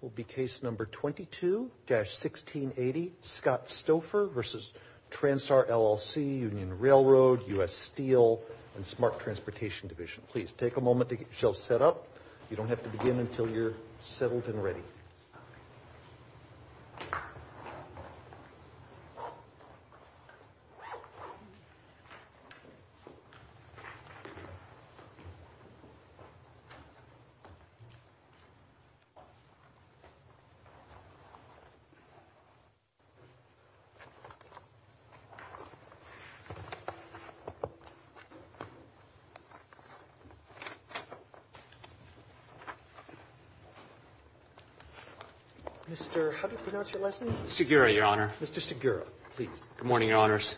will be case number 22-1680, Scott Stouffer v. Transtar LLC, Union Railroad, U.S. Steel, and Smart Transportation Division. Mr. Segura, Your Honor. Mr. Segura, please. Good morning, Your Honors.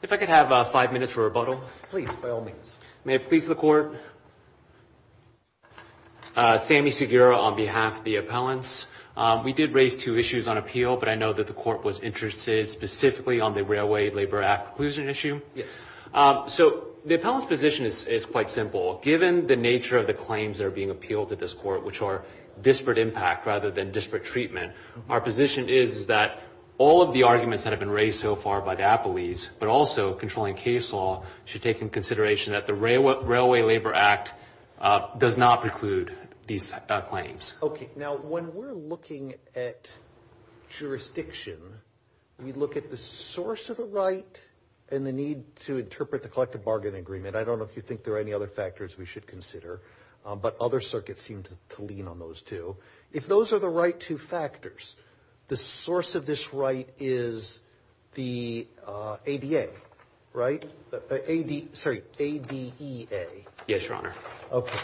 If I could have five minutes for rebuttal. Please, by all means. May it please the Court, Sammy Segura on behalf of the appellants. We did raise two issues on appeal, but I know that the Court was interested specifically on the Railway Labor Act preclusion issue. Yes. So the appellant's position is quite simple. Given the nature of the claims that are being appealed at this Court, which are disparate impact rather than disparate treatment, our position is that all of the arguments that have been raised so far by Dapolese, but also controlling case law, should take into consideration that the Railway Labor Act does not preclude these claims. Okay. Now, when we're looking at jurisdiction, we look at the source of the right and the need to interpret the collective bargain agreement. I don't know if you think there are any other factors we should consider, but other circuits seem to lean on those too. If those are the right two factors, the source of this right is the ADA, right? AD, sorry, ADEA. Yes, Your Honor. Okay.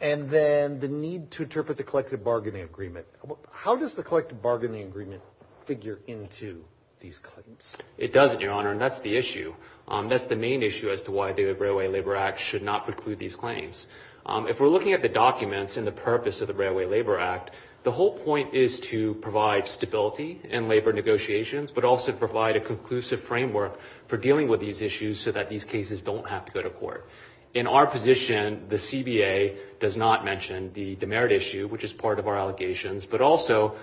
And then the need to interpret the collective bargaining agreement. How does the collective bargaining agreement figure into these claims? It doesn't, Your Honor, and that's the issue. That's the main issue as to why the Railway Labor Act should not preclude these claims. If we're looking at the documents and the purpose of the Railway Labor Act, the whole point is to provide stability in labor negotiations, but also provide a conclusive framework for dealing with these issues so that these cases don't have to go to court. In our position, the CBA does not mention the demerit issue, which is part of our allegations, but also,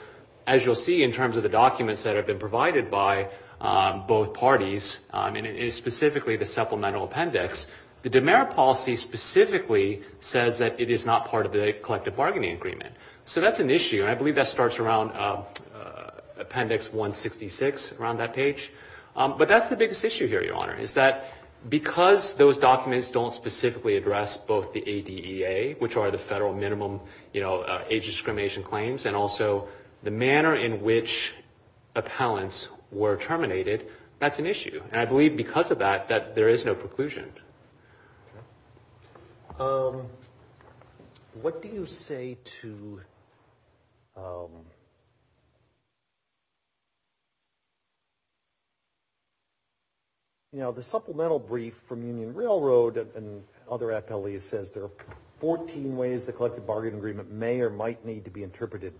as you'll see in terms of the documents that have been provided by both parties, and it is specifically the supplemental appendix, the demerit policy specifically says that it is not part of the collective bargaining agreement. So that's an issue, and I believe that starts around Appendix 166, around that page. But that's the biggest issue here, Your Honor, is that because those documents don't specifically address both the ADEA, which are the federal minimum age discrimination claims, and also the manner in which appellants were terminated, that's an issue. And I believe because of that, that there is no preclusion. What do you say to, you know, the supplemental brief from Union Railroad and other appellees says there are 14 ways the collective bargaining agreement may or might need to be interpreted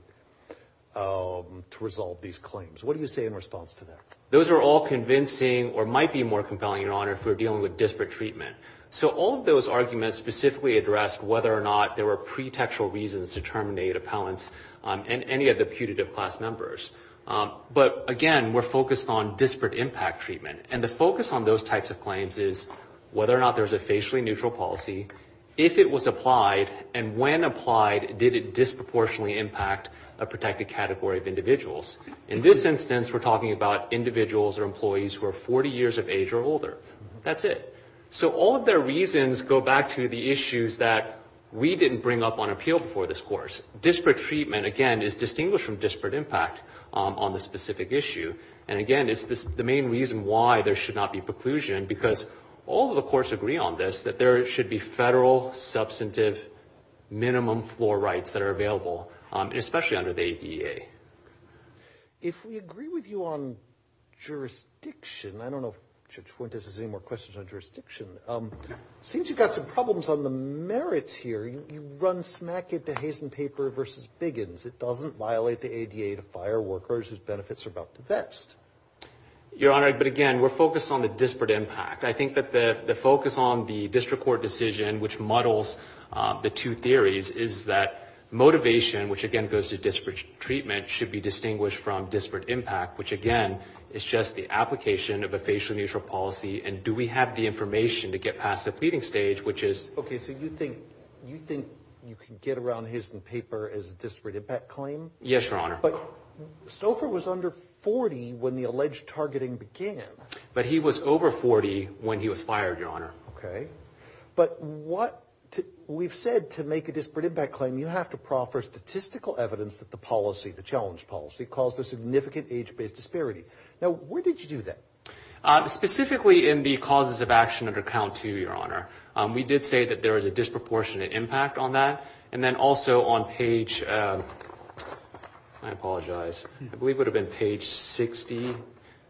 to resolve these claims. What do you say in response to that? Those are all convincing or might be more compelling, Your Honor, if we're dealing with disparate treatment. So all of those arguments specifically address whether or not there were pretextual reasons to terminate appellants and any of the putative class numbers. But again, we're focused on disparate impact treatment, and the focus on those types of claims is whether or not there's a facially neutral policy, if it was applied, and when applied, did it disproportionately impact a protected category of individuals. In this instance, we're talking about individuals or employees who are 40 years of age or older. That's it. So all of their reasons go back to the issues that we didn't bring up on appeal before this course. Disparate treatment, again, is distinguished from disparate impact on the specific issue. And again, it's the main reason why there should not be preclusion, because all of the courts agree on this, that there should be federal substantive minimum floor rights that are available, especially under the ADA. If we agree with you on jurisdiction, I don't know if Judge Fuentes has any more questions on jurisdiction. It seems you've got some problems on the merits here. You run smack it to haze and paper versus biggins. It doesn't violate the ADA to fire workers whose benefits are about to vest. Your Honor, but again, we're focused on the disparate impact. I think that the focus on the district court decision, which muddles the two theories, is that motivation, which again goes to disparate treatment, should be distinguished from disparate impact, which again, is just the application of a facial neutral policy. And do we have the information to get past the pleading stage, which is... Okay, so you think you can get around haze and paper as a disparate impact claim? Yes, Your Honor. But Stouffer was under 40 when the alleged targeting began. But he was over 40 when he was fired, Your Honor. Okay. But we've said to make a disparate impact claim, you have to proffer statistical evidence that the policy, the challenge policy, caused a significant age-based disparity. Now, where did you do that? Specifically in the causes of action under count two, Your Honor. We did say that there was a disproportionate impact on that. And then also on page... I apologize. I believe it would have been page 60.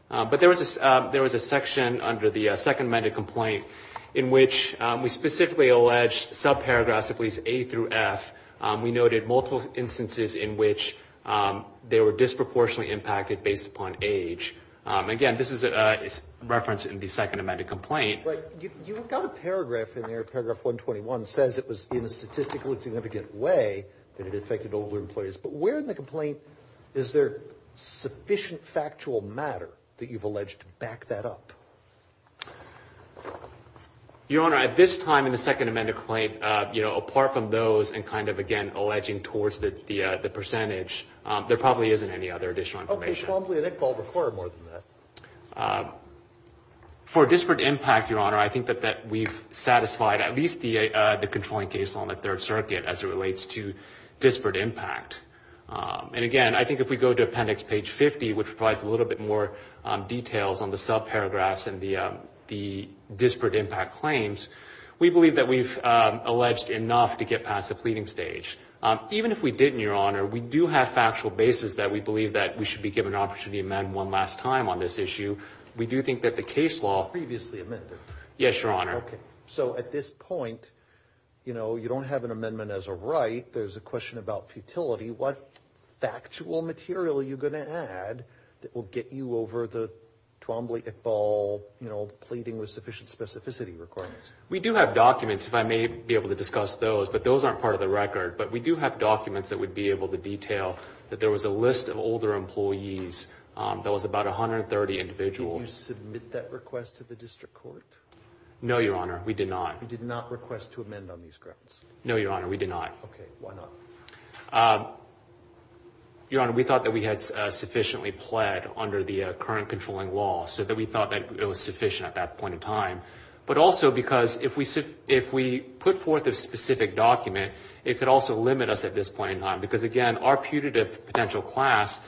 But there was a section under the second amended complaint in which we specifically alleged subparagraphs, at least A through F. We noted multiple instances in which they were disproportionately impacted based upon age. Again, this is a reference in the second amended complaint. Right. You've got a paragraph in there, paragraph 121, says it was in a statistically significant way that it affected older employees. But where in the complaint is there sufficient factual matter that you've alleged to back that up? Your Honor, at this time in the second amended claim, apart from those and kind of again alleging towards the percentage, there probably isn't any other additional information. Okay. So probably an equal or far more than that. For disparate impact, Your Honor, I think that we've satisfied at least the controlling case law in the Third Circuit as it relates to disparate impact. And again, I think if we go to appendix page 50, which provides a little bit more details on the subparagraphs and the disparate impact claims, we believe that we've alleged enough to get past the pleading stage. Even if we didn't, Your Honor, we do have factual basis that we believe that we should be given an opportunity to amend one last time on this issue. We do think that the case law... Previously amended. Yes, Your Honor. Okay. So at this point, you know, you don't have an amendment as a right. There's a question about futility. What factual material are you going to add that will get you over the Twombly-Iqbal, you know, pleading with sufficient specificity requirements? We do have documents, if I may be able to discuss those, but those aren't part of the record. But we do have documents that we'd be able to detail that there was a list of older employees that was about 130 individuals. Did you submit that request to the district court? No, Your Honor. We did not. You did not request to amend on these grounds? No, Your Honor. We did not. Okay. Why not? Your Honor, we thought that we had sufficiently pled under the current controlling law, so that we thought that it was sufficient at that point in time. But also because if we put forth a specific document, it could also limit us at this point in time. Because again, our putative potential class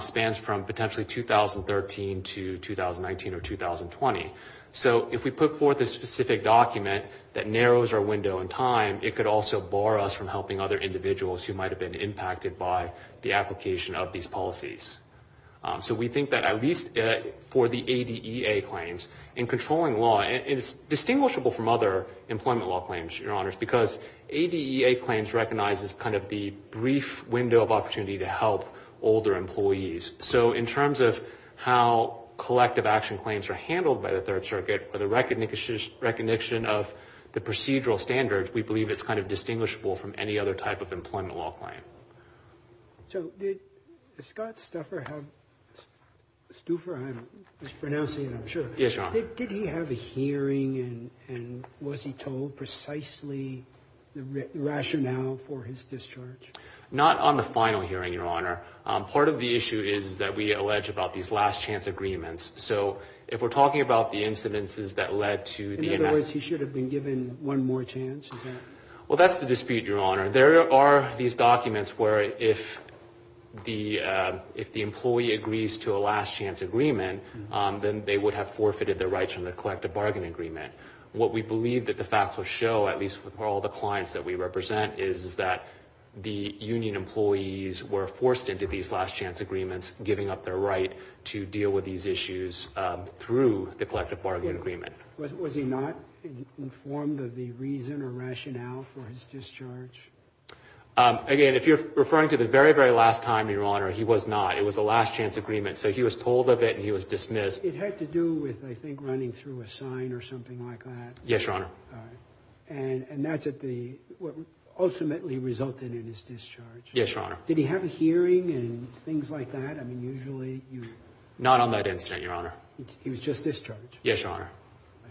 spans from potentially 2013 to 2019 or 2020. So if we put forth a specific document that narrows our window in time, it could also bar us from helping other individuals who might have been impacted by the application of these policies. So we think that at least for the ADEA claims, in controlling law, and it's distinguishable from other employment law claims, Your Honors, because ADEA claims recognizes kind of the brief window of opportunity to help older employees. So in terms of how collective action claims are handled by the Third Circuit, or the recognition of the procedural standards, we believe it's kind of distinguishable from any other type of employment law claim. So did Scott Stouffer have a hearing, and was he told precisely the rationale for his discharge? Not on the final hearing, Your Honor. Part of the issue is that we allege about these last chance agreements. So if we're talking about the incidences that led to the enactment In other words, he should have been given one more chance, is that? Well that's the dispute, Your Honor. There are these documents where if the employee agrees to a last chance agreement, then they would have forfeited their rights from the collective bargain agreement. What we believe that the facts will show, at least with all the clients that we represent, is that the union employees were forced into these last chance agreements, giving up their right to deal with these issues through the collective bargain agreement. Was he not informed of the reason or rationale for his discharge? Again, if you're referring to the very, very last time, Your Honor, he was not. It was a last chance agreement. So he was told of it, and he was dismissed. It had to do with, I think, running through a sign or something like that? Yes, Your Honor. All right. And that's what ultimately resulted in his discharge? Yes, Your Honor. Did he have a hearing and things like that? I mean, usually you... Not on that incident, Your Honor. He was just discharged? Yes, Your Honor. I see.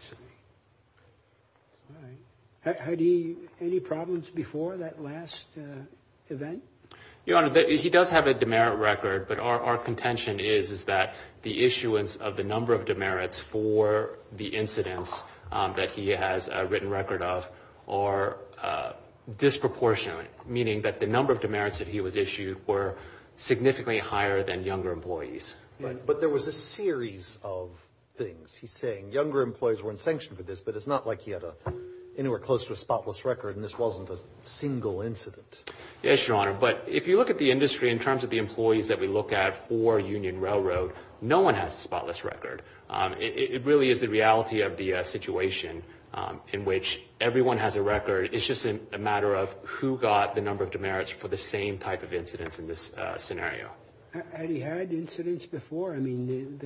All right. Had he any problems before that last event? Your Honor, he does have a demerit record, but our contention is that the issuance of the number of demerits for the incidents that he has a written record of are disproportionate, meaning that the number of demerits that he was issued were significantly higher than younger employees. But there was a series of things. He's saying younger employees were in sanction for this, but it's not like he had anywhere close to a spotless record, and this wasn't a single incident. Yes, Your Honor. But if you look at the industry in terms of the employees that we look at for Union Railroad, no one has a spotless record. It really is the reality of the situation in which everyone has a record. It's just a matter of who got the number of demerits for the same type of incidents in this scenario. Had he had incidents before? I mean,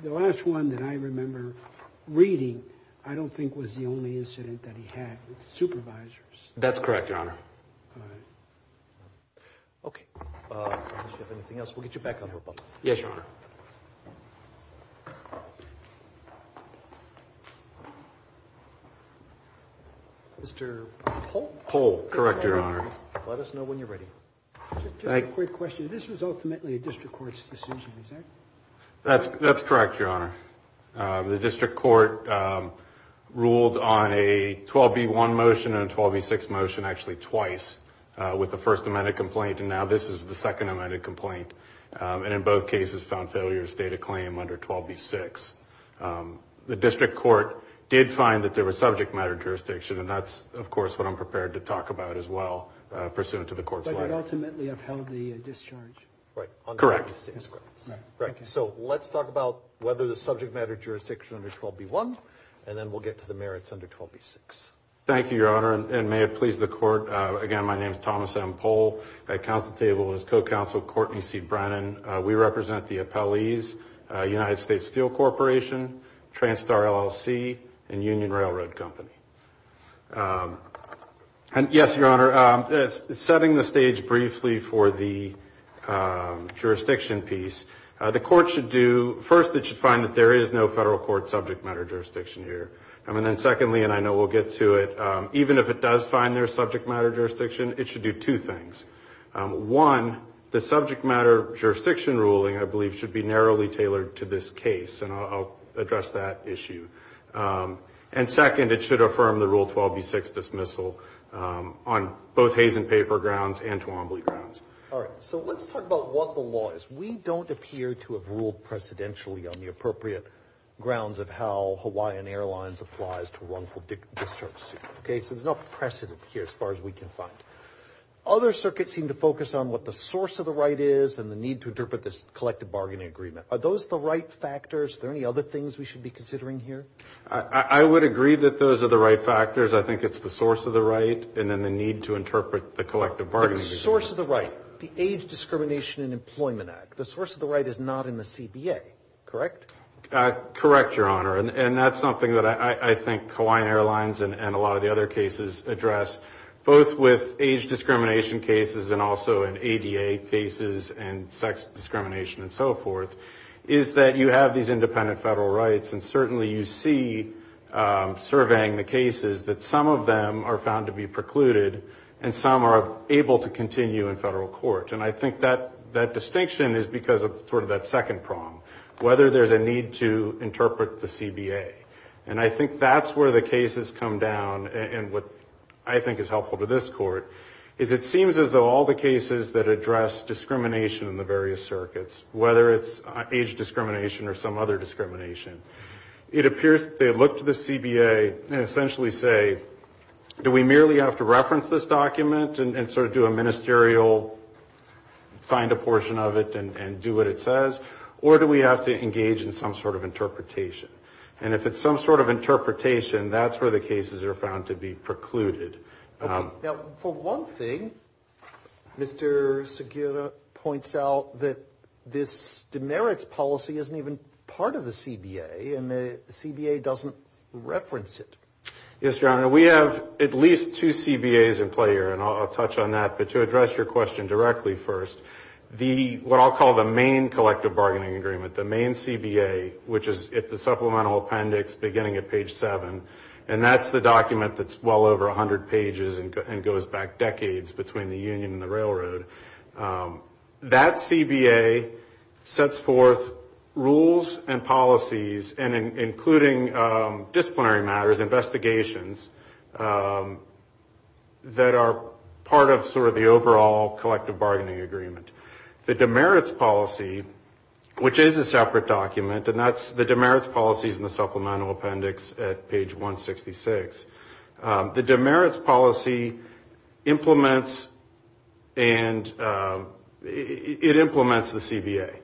the last one that I remember reading, I don't think was the only incident that he had with supervisors. That's correct, Your Honor. All right. Okay. If you have anything else, we'll get you back on the rebuttal. Yes, Your Honor. Mr. Holt? Holt. Correct, Your Honor. Let us know when you're ready. Just a quick question. This was ultimately a district court's decision, is that correct? That's correct, Your Honor. The district court ruled on a 12B1 motion and a 12B6 motion, actually twice, with the first amended complaint, and now this is the second amended complaint, and in both cases found failure to state a claim under 12B6. The district court did find that there was subject matter jurisdiction, and that's, of course, what I'm prepared to talk about as well pursuant to the court's letter. But it ultimately upheld the discharge. Correct. So let's talk about whether there's subject matter jurisdiction under 12B1, and then we'll get to the merits under 12B6. Thank you, Your Honor, and may it please the Court. Again, my name is Thomas M. Pohl. At council table is co-counsel Courtney C. Brennan. We represent the appellees, United States Steel Corporation, Transtar LLC, and Union Railroad Company. And yes, Your Honor, setting the stage briefly for the jurisdiction piece, the court should do, first it should find that there is no federal court subject matter jurisdiction here. And then secondly, and I know we'll get to it, even if it does find there is subject matter jurisdiction, it should do two things. One, the subject matter jurisdiction ruling, I believe, should be narrowly tailored to this case, and I'll address that issue. And second, it should affirm the Rule 12B6 dismissal on both haze and paper grounds and Twombly grounds. All right. So let's talk about what the law is. We don't appear to have ruled precedentially on the appropriate grounds of how Hawaiian Airlines applies to wrongful discharge. Okay? So there's no precedent here as far as we can find. Other circuits seem to focus on what the source of the right is and the need to interpret this collective bargaining agreement. Are those the right factors? Are there any other things we should be considering here? I would agree that those are the right factors. I think it's the source of the right and then the need to interpret the collective bargaining agreement. The source of the right, the Age Discrimination and Employment Act, the source of the right is not in the CBA, correct? Correct, Your Honor. And that's something that I think Hawaiian Airlines and a lot of the other cases address, both with age discrimination cases and also in ADA cases and sex discrimination and so forth, is that you have these independent federal rights and certainly you see, surveying the cases, that some of them are found to be precluded and some are able to continue in federal court. And I think that distinction is because of sort of that second prong, whether there's a need to interpret the CBA. And I think that's where the cases come down and what I think is helpful to this court is, it seems as though all the cases that address discrimination in the various circuits, whether it's age discrimination or some other discrimination, it appears that they essentially say, do we merely have to reference this document and sort of do a ministerial, find a portion of it and do what it says? Or do we have to engage in some sort of interpretation? And if it's some sort of interpretation, that's where the cases are found to be precluded. Now, for one thing, Mr. Segura points out that this demerits policy isn't even part of the CBA and the CBA doesn't reference it. Yes, Your Honor. We have at least two CBAs in play here and I'll touch on that. But to address your question directly first, what I'll call the main collective bargaining agreement, the main CBA, which is at the supplemental appendix beginning at page 7, and that's the document that's well over 100 pages and goes back decades between the union and the railroad. That CBA sets forth rules and policies, including disciplinary matters, investigations, that are part of sort of the overall collective bargaining agreement. The demerits policy, which is a separate document, and that's the demerits policies in the supplemental appendix at page 166. The demerits policy implements and it implements the CBA.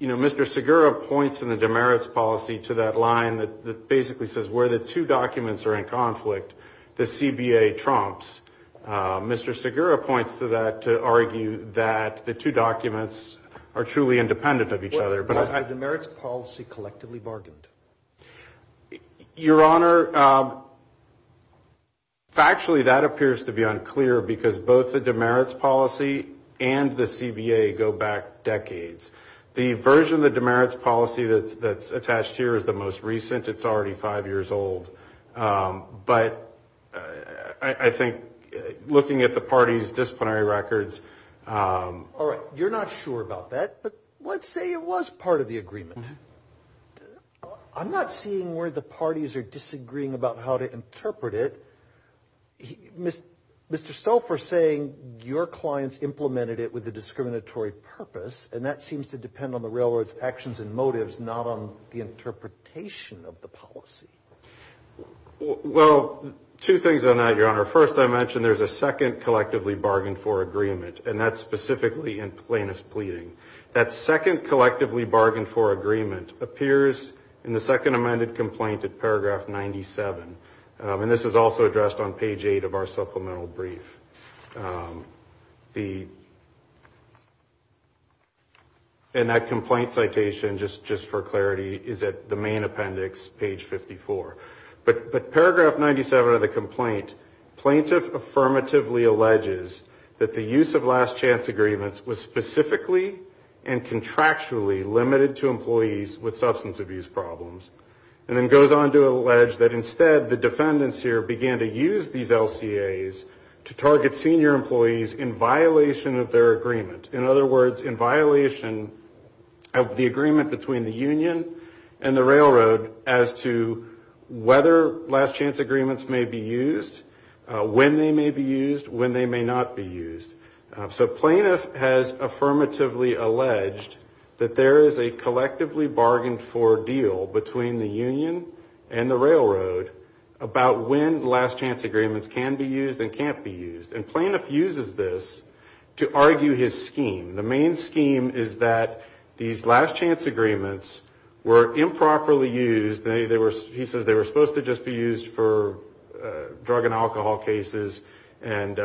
Mr. Segura points in the demerits policy to that line that basically says where the two documents are in conflict, the CBA trumps. Mr. Segura points to that to argue that the two documents are truly independent of each other. Was the demerits policy collectively bargained? Your Honor, factually that appears to be unclear because both the demerits policy and the CBA go back decades. The version of the demerits policy that's attached here is the most recent. It's already five years old. But I think looking at the party's disciplinary records. All right. You're not sure about that. But let's say it was part of the agreement. I'm not seeing where the parties are disagreeing about how to interpret it. Mr. Stolfer is saying your clients implemented it with a discriminatory purpose and that seems to depend on the railroad's actions and motives, not on the interpretation of the policy. Well, two things on that, Your Honor. First, I mentioned there's a second collectively bargained for agreement and that's specifically in plaintiff's pleading. That second collectively bargained for agreement appears in the second amended complaint at paragraph 97. And this is also addressed on page 8 of our supplemental brief. And that complaint citation, just for clarity, is at the main appendix, page 54. But paragraph 97 of the complaint, plaintiff affirmatively alleges that the use of last chance agreements is unconstitutional and contractually limited to employees with substance abuse problems. And then goes on to allege that instead the defendants here began to use these LCAs to target senior employees in violation of their agreement. In other words, in violation of the agreement between the union and the railroad as to whether last chance agreements may be used, when they may be used, when they may not be used. So plaintiff has affirmatively alleged that there is a collectively bargained for deal between the union and the railroad about when last chance agreements can be used and can't be used. And plaintiff uses this to argue his scheme. The main scheme is that these last chance agreements were improperly used. He says they were supposed to just be used for drug and alcohol cases and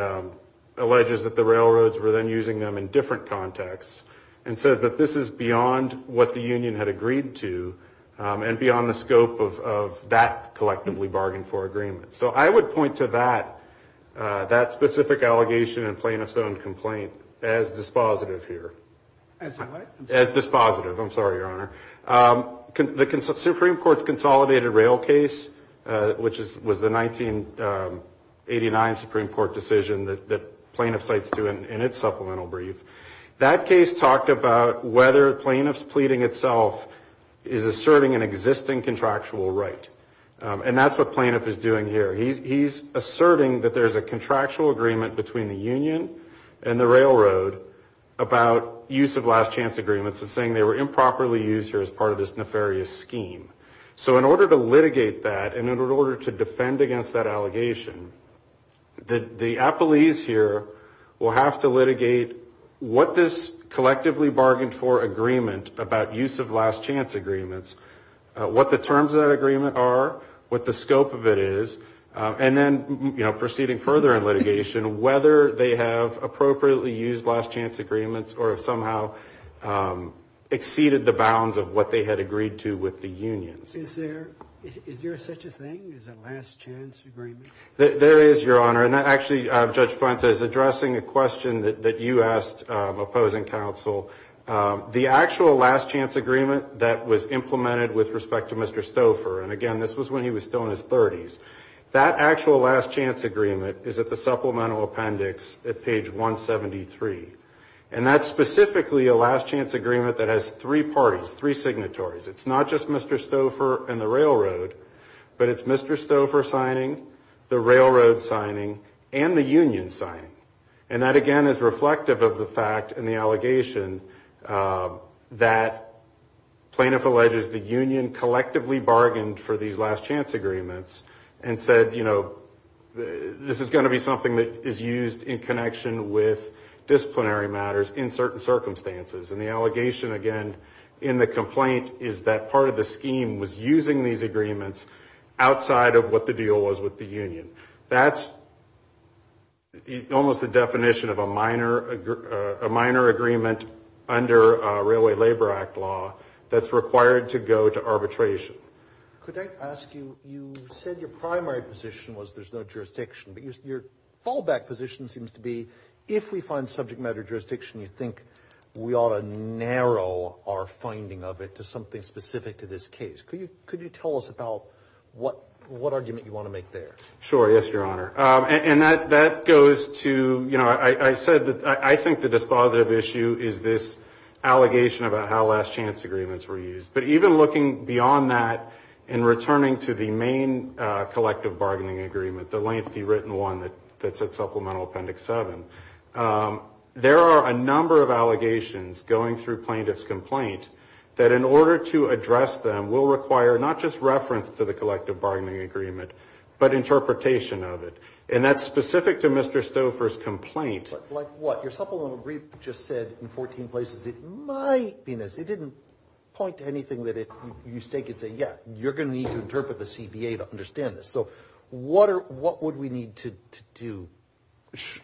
alleges that the railroads were then using them in different contexts and says that this is beyond what the union had agreed to and beyond the scope of that collectively bargained for agreement. So I would point to that specific allegation and plaintiff's own complaint as dispositive here. As what? As dispositive. I'm sorry, Your Honor. The Supreme Court's consolidated rail case, which was the 1989 Supreme Court decision that plaintiff cites in its supplemental brief. That case talked about whether plaintiff's pleading itself is asserting an existing contractual right. And that's what plaintiff is doing here. He's asserting that there's a contractual agreement between the union and the railroad about use of last chance agreements and saying they were improperly used here as part of this nefarious scheme. So in order to litigate that and in order to defend against that allegation, the appellees here will have to litigate what this collectively bargained for agreement about use of last chance agreements, what the terms of that agreement are, what the scope of it is, and then proceeding further in litigation, whether they have appropriately used last chance agreements or have somehow exceeded the bounds of what they had agreed to with the unions. Is there such a thing as a last chance agreement? There is, Your Honor. And actually, Judge Fuentes, addressing a question that you asked opposing counsel, the actual last chance agreement that was implemented with respect to Mr. Stouffer, and again, this was when he was still in his 30s, that actual last chance agreement is at the supplemental appendix at page 173. And that's specifically a last chance agreement that has three parties, three signatories. It's not just Mr. Stouffer and the railroad, but it's Mr. Stouffer signing, the railroad signing, and the union signing. And that, again, is reflective of the fact and the allegation that plaintiff alleges the union collectively bargained for these last chance agreements and said, you know, this is going to be something that is used in connection with disciplinary matters in certain circumstances. And the allegation, again, in the complaint is that part of the scheme was using these agreements outside of what the deal was with the union. That's almost the definition of a minor agreement under Railway Labor Act law that's required to go to arbitration. Could I ask you, you said your primary position was there's no jurisdiction, but your fallback position seems to be if we find subject matter jurisdiction, you think we ought to narrow our finding of it to something specific to this case. Could you tell us about what argument you want to make there? Sure, yes, Your Honor. And that goes to, you know, I said that I think the dispositive issue is this allegation about how last chance agreements were used. But even looking beyond that and returning to the main collective bargaining agreement, the lengthy written one that's at Supplemental Appendix 7, there are a number of allegations going through plaintiff's complaint that in order to address them will require not just reference to the collective bargaining agreement, but interpretation of it. And that's specific to Mr. Stouffer's complaint. Like what? Your supplemental brief just said in 14 places it might be this. It didn't point to anything that you stake and say, yeah, you're going to need to interpret the CBA to understand this. So what would we need to do?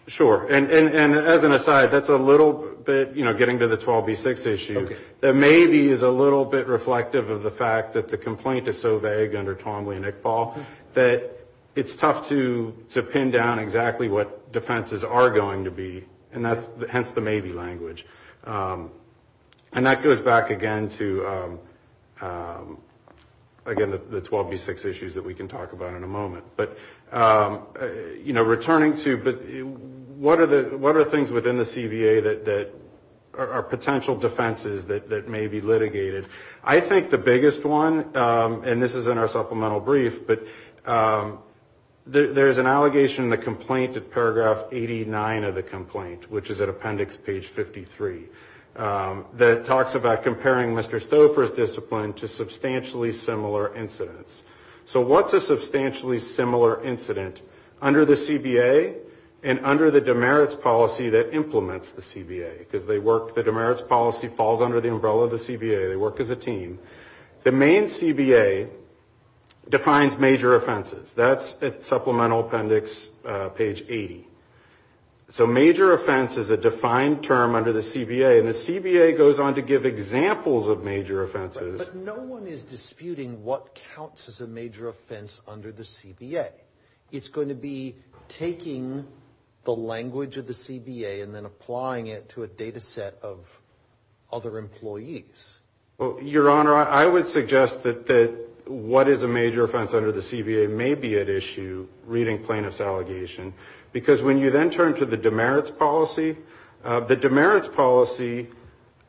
Sure. And as an aside, that's a little bit, you know, getting to the 12B6 issue, that maybe is a little bit reflective of the fact that the complaint is so vague under Tomley and Iqbal that it's tough to pin down exactly what defenses are going to be. And that's hence the maybe language. And that goes back again to, again, the 12B6 issues that we can talk about in a moment. But, you know, returning to what are the things within the CBA that are potential defenses that may be litigated? I think the biggest one, and this is in our supplemental brief, but there's an allegation in the complaint at paragraph 89 of the complaint, which is at Appendix Page 53, that talks about comparing Mr. Stouffer's discipline to substantially similar incidents. So what's a substantially similar incident under the CBA and under the demerits policy that implements the CBA? Because the demerits policy falls under the umbrella of the CBA. They work as a team. The main CBA defines major offenses. That's at Supplemental Appendix Page 80. So major offense is a defined term under the CBA, and the CBA goes on to give examples of major offenses. But no one is disputing what counts as a major offense under the CBA. It's going to be taking the language of the CBA and then applying it to a data set of other employees. Well, Your Honor, I would suggest that what is a major offense under the CBA may be at issue reading plaintiff's allegation, because when you then turn to the demerits policy, the demerits policy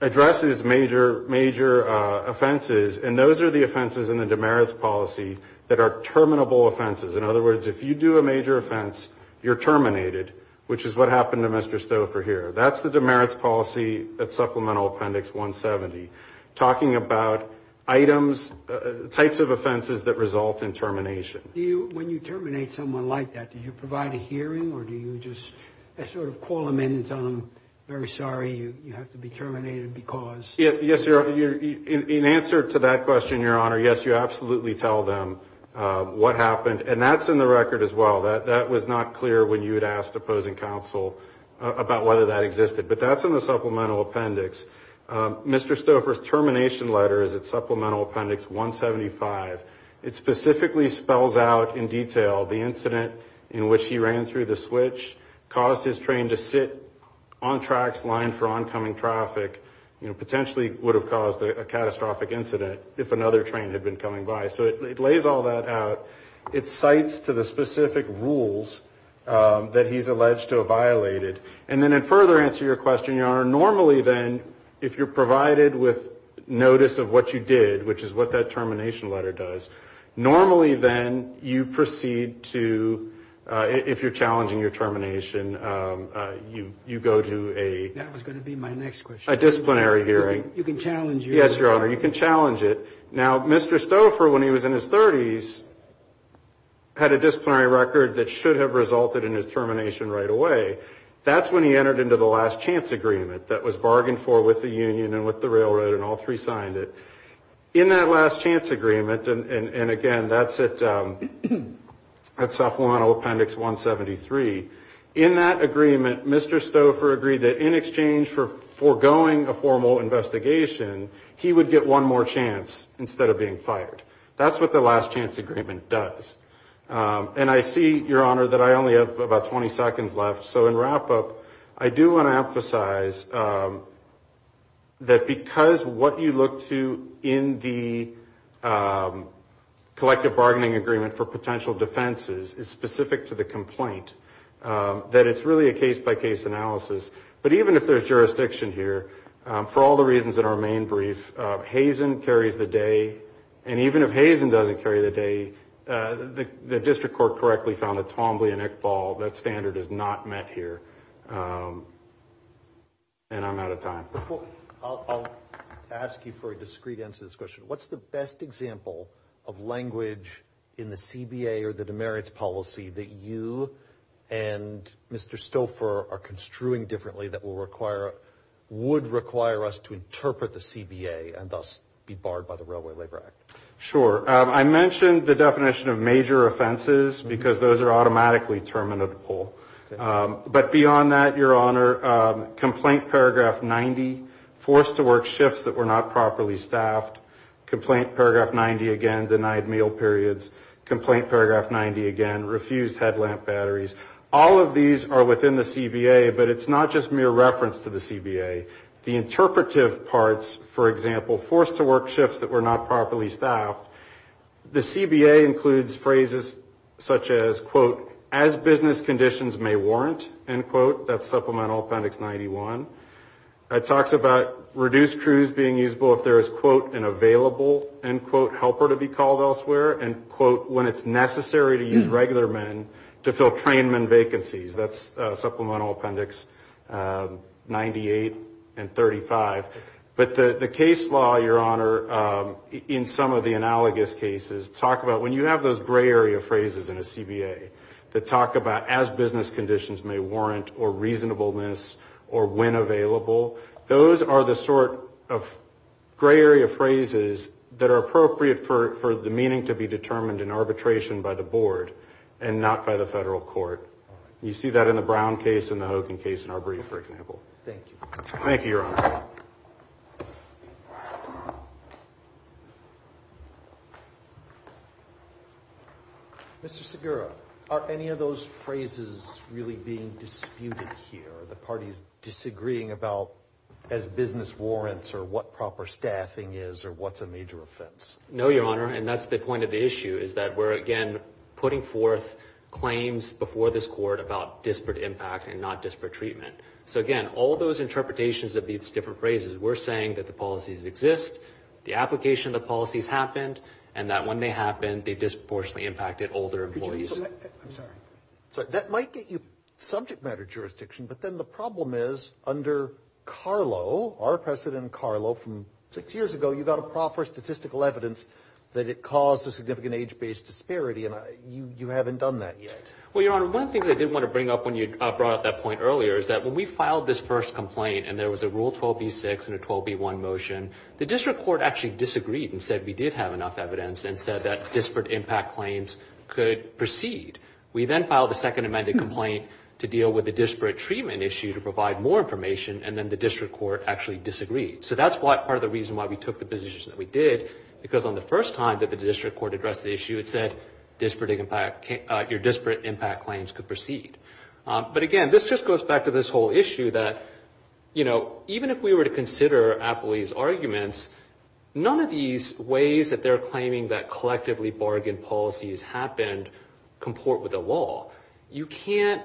addresses major offenses, and those are the offenses in the demerits policy that are terminable offenses. In other words, if you do a major offense, you're terminated, which is what happened to Mr. Stouffer here. That's the demerits policy at Supplemental Appendix 170, talking about items, types of offenses that result in termination. When you terminate someone like that, do you provide a hearing or do you just sort of call them in and tell them, very sorry, you have to be terminated because? Yes, Your Honor. In answer to that question, Your Honor, yes, you absolutely tell them what happened, and that's in the record as well. That was not clear when you had asked opposing counsel about whether that existed. But that's in the Supplemental Appendix. Mr. Stouffer's termination letter is at Supplemental Appendix 175. It specifically spells out in detail the incident in which he ran through the switch, caused his train to sit on track's line for oncoming traffic, potentially would have caused a catastrophic incident if another train had been coming by. So it lays all that out. It cites to the specific rules that he's alleged to have violated. And then in further answer to your question, Your Honor, normally then, if you're provided with notice of what you did, which is what that termination letter does, normally then you proceed to, if you're challenging your termination, you go to a disciplinary hearing. That was going to be my next question. You can challenge it. Yes, Your Honor, you can challenge it. Now, Mr. Stouffer, when he was in his 30s, had a disciplinary record that should have resulted in his termination right away. That's when he entered into the last chance agreement that was bargained for with the union and with the railroad, and all three signed it. In that last chance agreement, and again, that's at Supplemental Appendix 173, in that agreement, Mr. Stouffer agreed that in exchange for foregoing a formal investigation, he would get one more chance instead of being fired. That's what the last chance agreement does. And I see, Your Honor, that I only have about 20 seconds left, so in wrap-up, I do want to emphasize that because what you look to in the collective bargaining agreement for potential defenses is specific to the complaint, that it's really a case-by-case analysis. But even if there's jurisdiction here, for all the reasons in our main brief, Hazen carries the day, and even if Hazen doesn't carry the day, the district court correctly found that it's humbly an ick ball. That standard is not met here. And I'm out of time. I'll ask you for a discreet answer to this question. What's the best example of language in the CBA or the demerits policy that you and Mr. Stouffer are construing differently that would require us to interpret the CBA and thus be barred by the Railway Labor Act? Sure. I mentioned the definition of major offenses, because those are automatically terminable. But beyond that, Your Honor, complaint paragraph 90, forced to work shifts that were not properly staffed, complaint paragraph 90 again, denied meal periods, complaint paragraph 90 again, refused headlamp batteries, all of these are within the CBA, but it's not just mere reference to the CBA. The interpretive parts, for example, forced to work shifts that were not properly staffed, the CBA includes phrases such as, quote, as business conditions may warrant, end quote, that's Supplemental Appendix 91. It talks about reduced crews being usable if there is, quote, an available, end quote, helper to be called elsewhere, end quote, when it's necessary to use regular men to fill trainman vacancies. That's Supplemental Appendix 98 and 35. But the case law, Your Honor, in some of the analogous cases talk about when you have those gray area phrases in a CBA that talk about as business conditions may warrant or reasonableness or when available, those are the sort of gray area phrases that are appropriate for the meaning to be determined in arbitration by the Board and not by the Federal Court. You see that in the Brown case and the Hogan case in our brief, for example. Thank you. Thank you, Your Honor. Mr. Segura, are any of those phrases really being disputed here? Are the parties disagreeing about as business warrants or what proper staffing is or what's a major offense? No, Your Honor, and that's the point of the issue is that we're, again, putting forth claims before this Court about disparate impact and not disparate treatment. So, again, all those interpretations of these different phrases, we're saying that the policies exist, the application of the policies happened, and that when they happened, they disproportionately impacted older employees. I'm sorry. That might get you subject matter jurisdiction, but then the problem is under Carlow, our President Carlow, from six years ago, you got a proper statistical evidence that it caused a significant age-based disparity, and you haven't done that yet. Well, Your Honor, one thing I did want to bring up when you brought up that point earlier is that when we filed this first complaint and there was a Rule 12b-6 and a 12b-1 motion, the District Court actually disagreed and said we did have enough evidence and said that disparate impact claims could proceed. We then filed a second amended complaint to deal with the disparate treatment issue to provide more information, and then the District Court actually disagreed. So that's part of the reason why we took the position that we did, because on the first time that the District Court addressed the issue, it said disparate impact claims could proceed. But again, this just goes back to this whole issue that, you know, even if we were to consider Appleby's arguments, none of these ways that they're claiming that collectively bargained policies happened comport with the law. You can't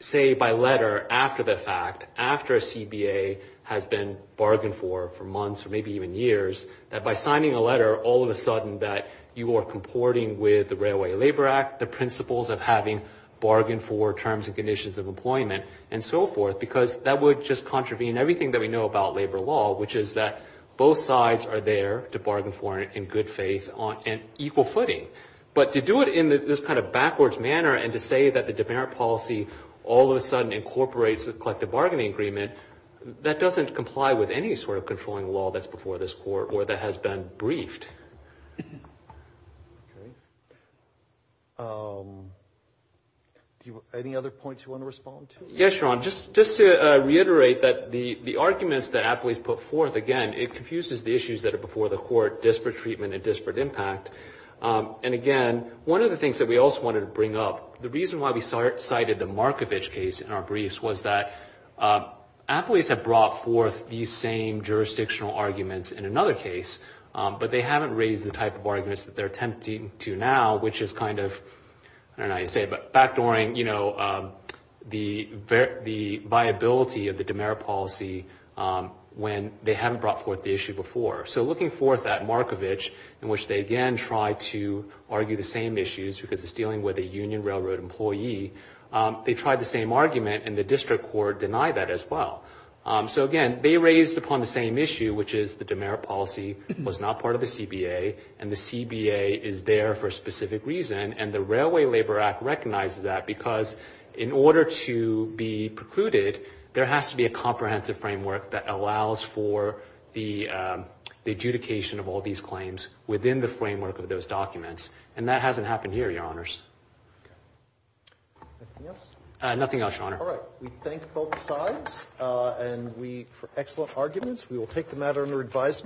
say by letter after the fact, after a CBA has been bargained for for months or maybe even years, that by signing a letter, all of a sudden that you are comporting with the Railway Labor Act, the principles of having bargained for terms and conditions of employment and so forth, because that would just contravene everything that we know about labor law, which is that both sides are there to bargain for it in good faith and equal footing. But to do it in this kind of backwards manner and to say that the disparate policy all of a sudden incorporates the collective bargaining agreement, that doesn't comply with any sort of controlling law that's before this Court or that has been briefed. Okay. Any other points you want to respond to? Yes, Your Honor. Just to reiterate that the arguments that Appleby's put forth, again, it confuses the issues that are before the Court, disparate treatment and disparate impact. And again, one of the things that we also wanted to bring up, the reason why we cited the Markovich case in our briefs was that Appleby's had brought forth these same jurisdictional arguments in another case, but they haven't raised the type of arguments that they're attempting to now, which is kind of, I don't know how you'd say it, but backdooring the viability of the dimerit policy when they haven't brought forth the issue before. So looking forth at Markovich, in which they again try to argue the same issues because it's dealing with a Union Railroad employee, they tried the same argument and the District Court denied that as well. So again, they raised upon the same issue, which is the dimerit policy was not part of the CBA and the CBA is there for a specific reason, and the Railway Labor Act recognizes that because in order to be precluded, there has to be a comprehensive framework that allows for the adjudication of all these claims within the framework of those documents. And that hasn't happened here, Your Honors. Nothing else, Your Honor? All right. We thank both sides for excellent arguments. We will take the matter under advisement.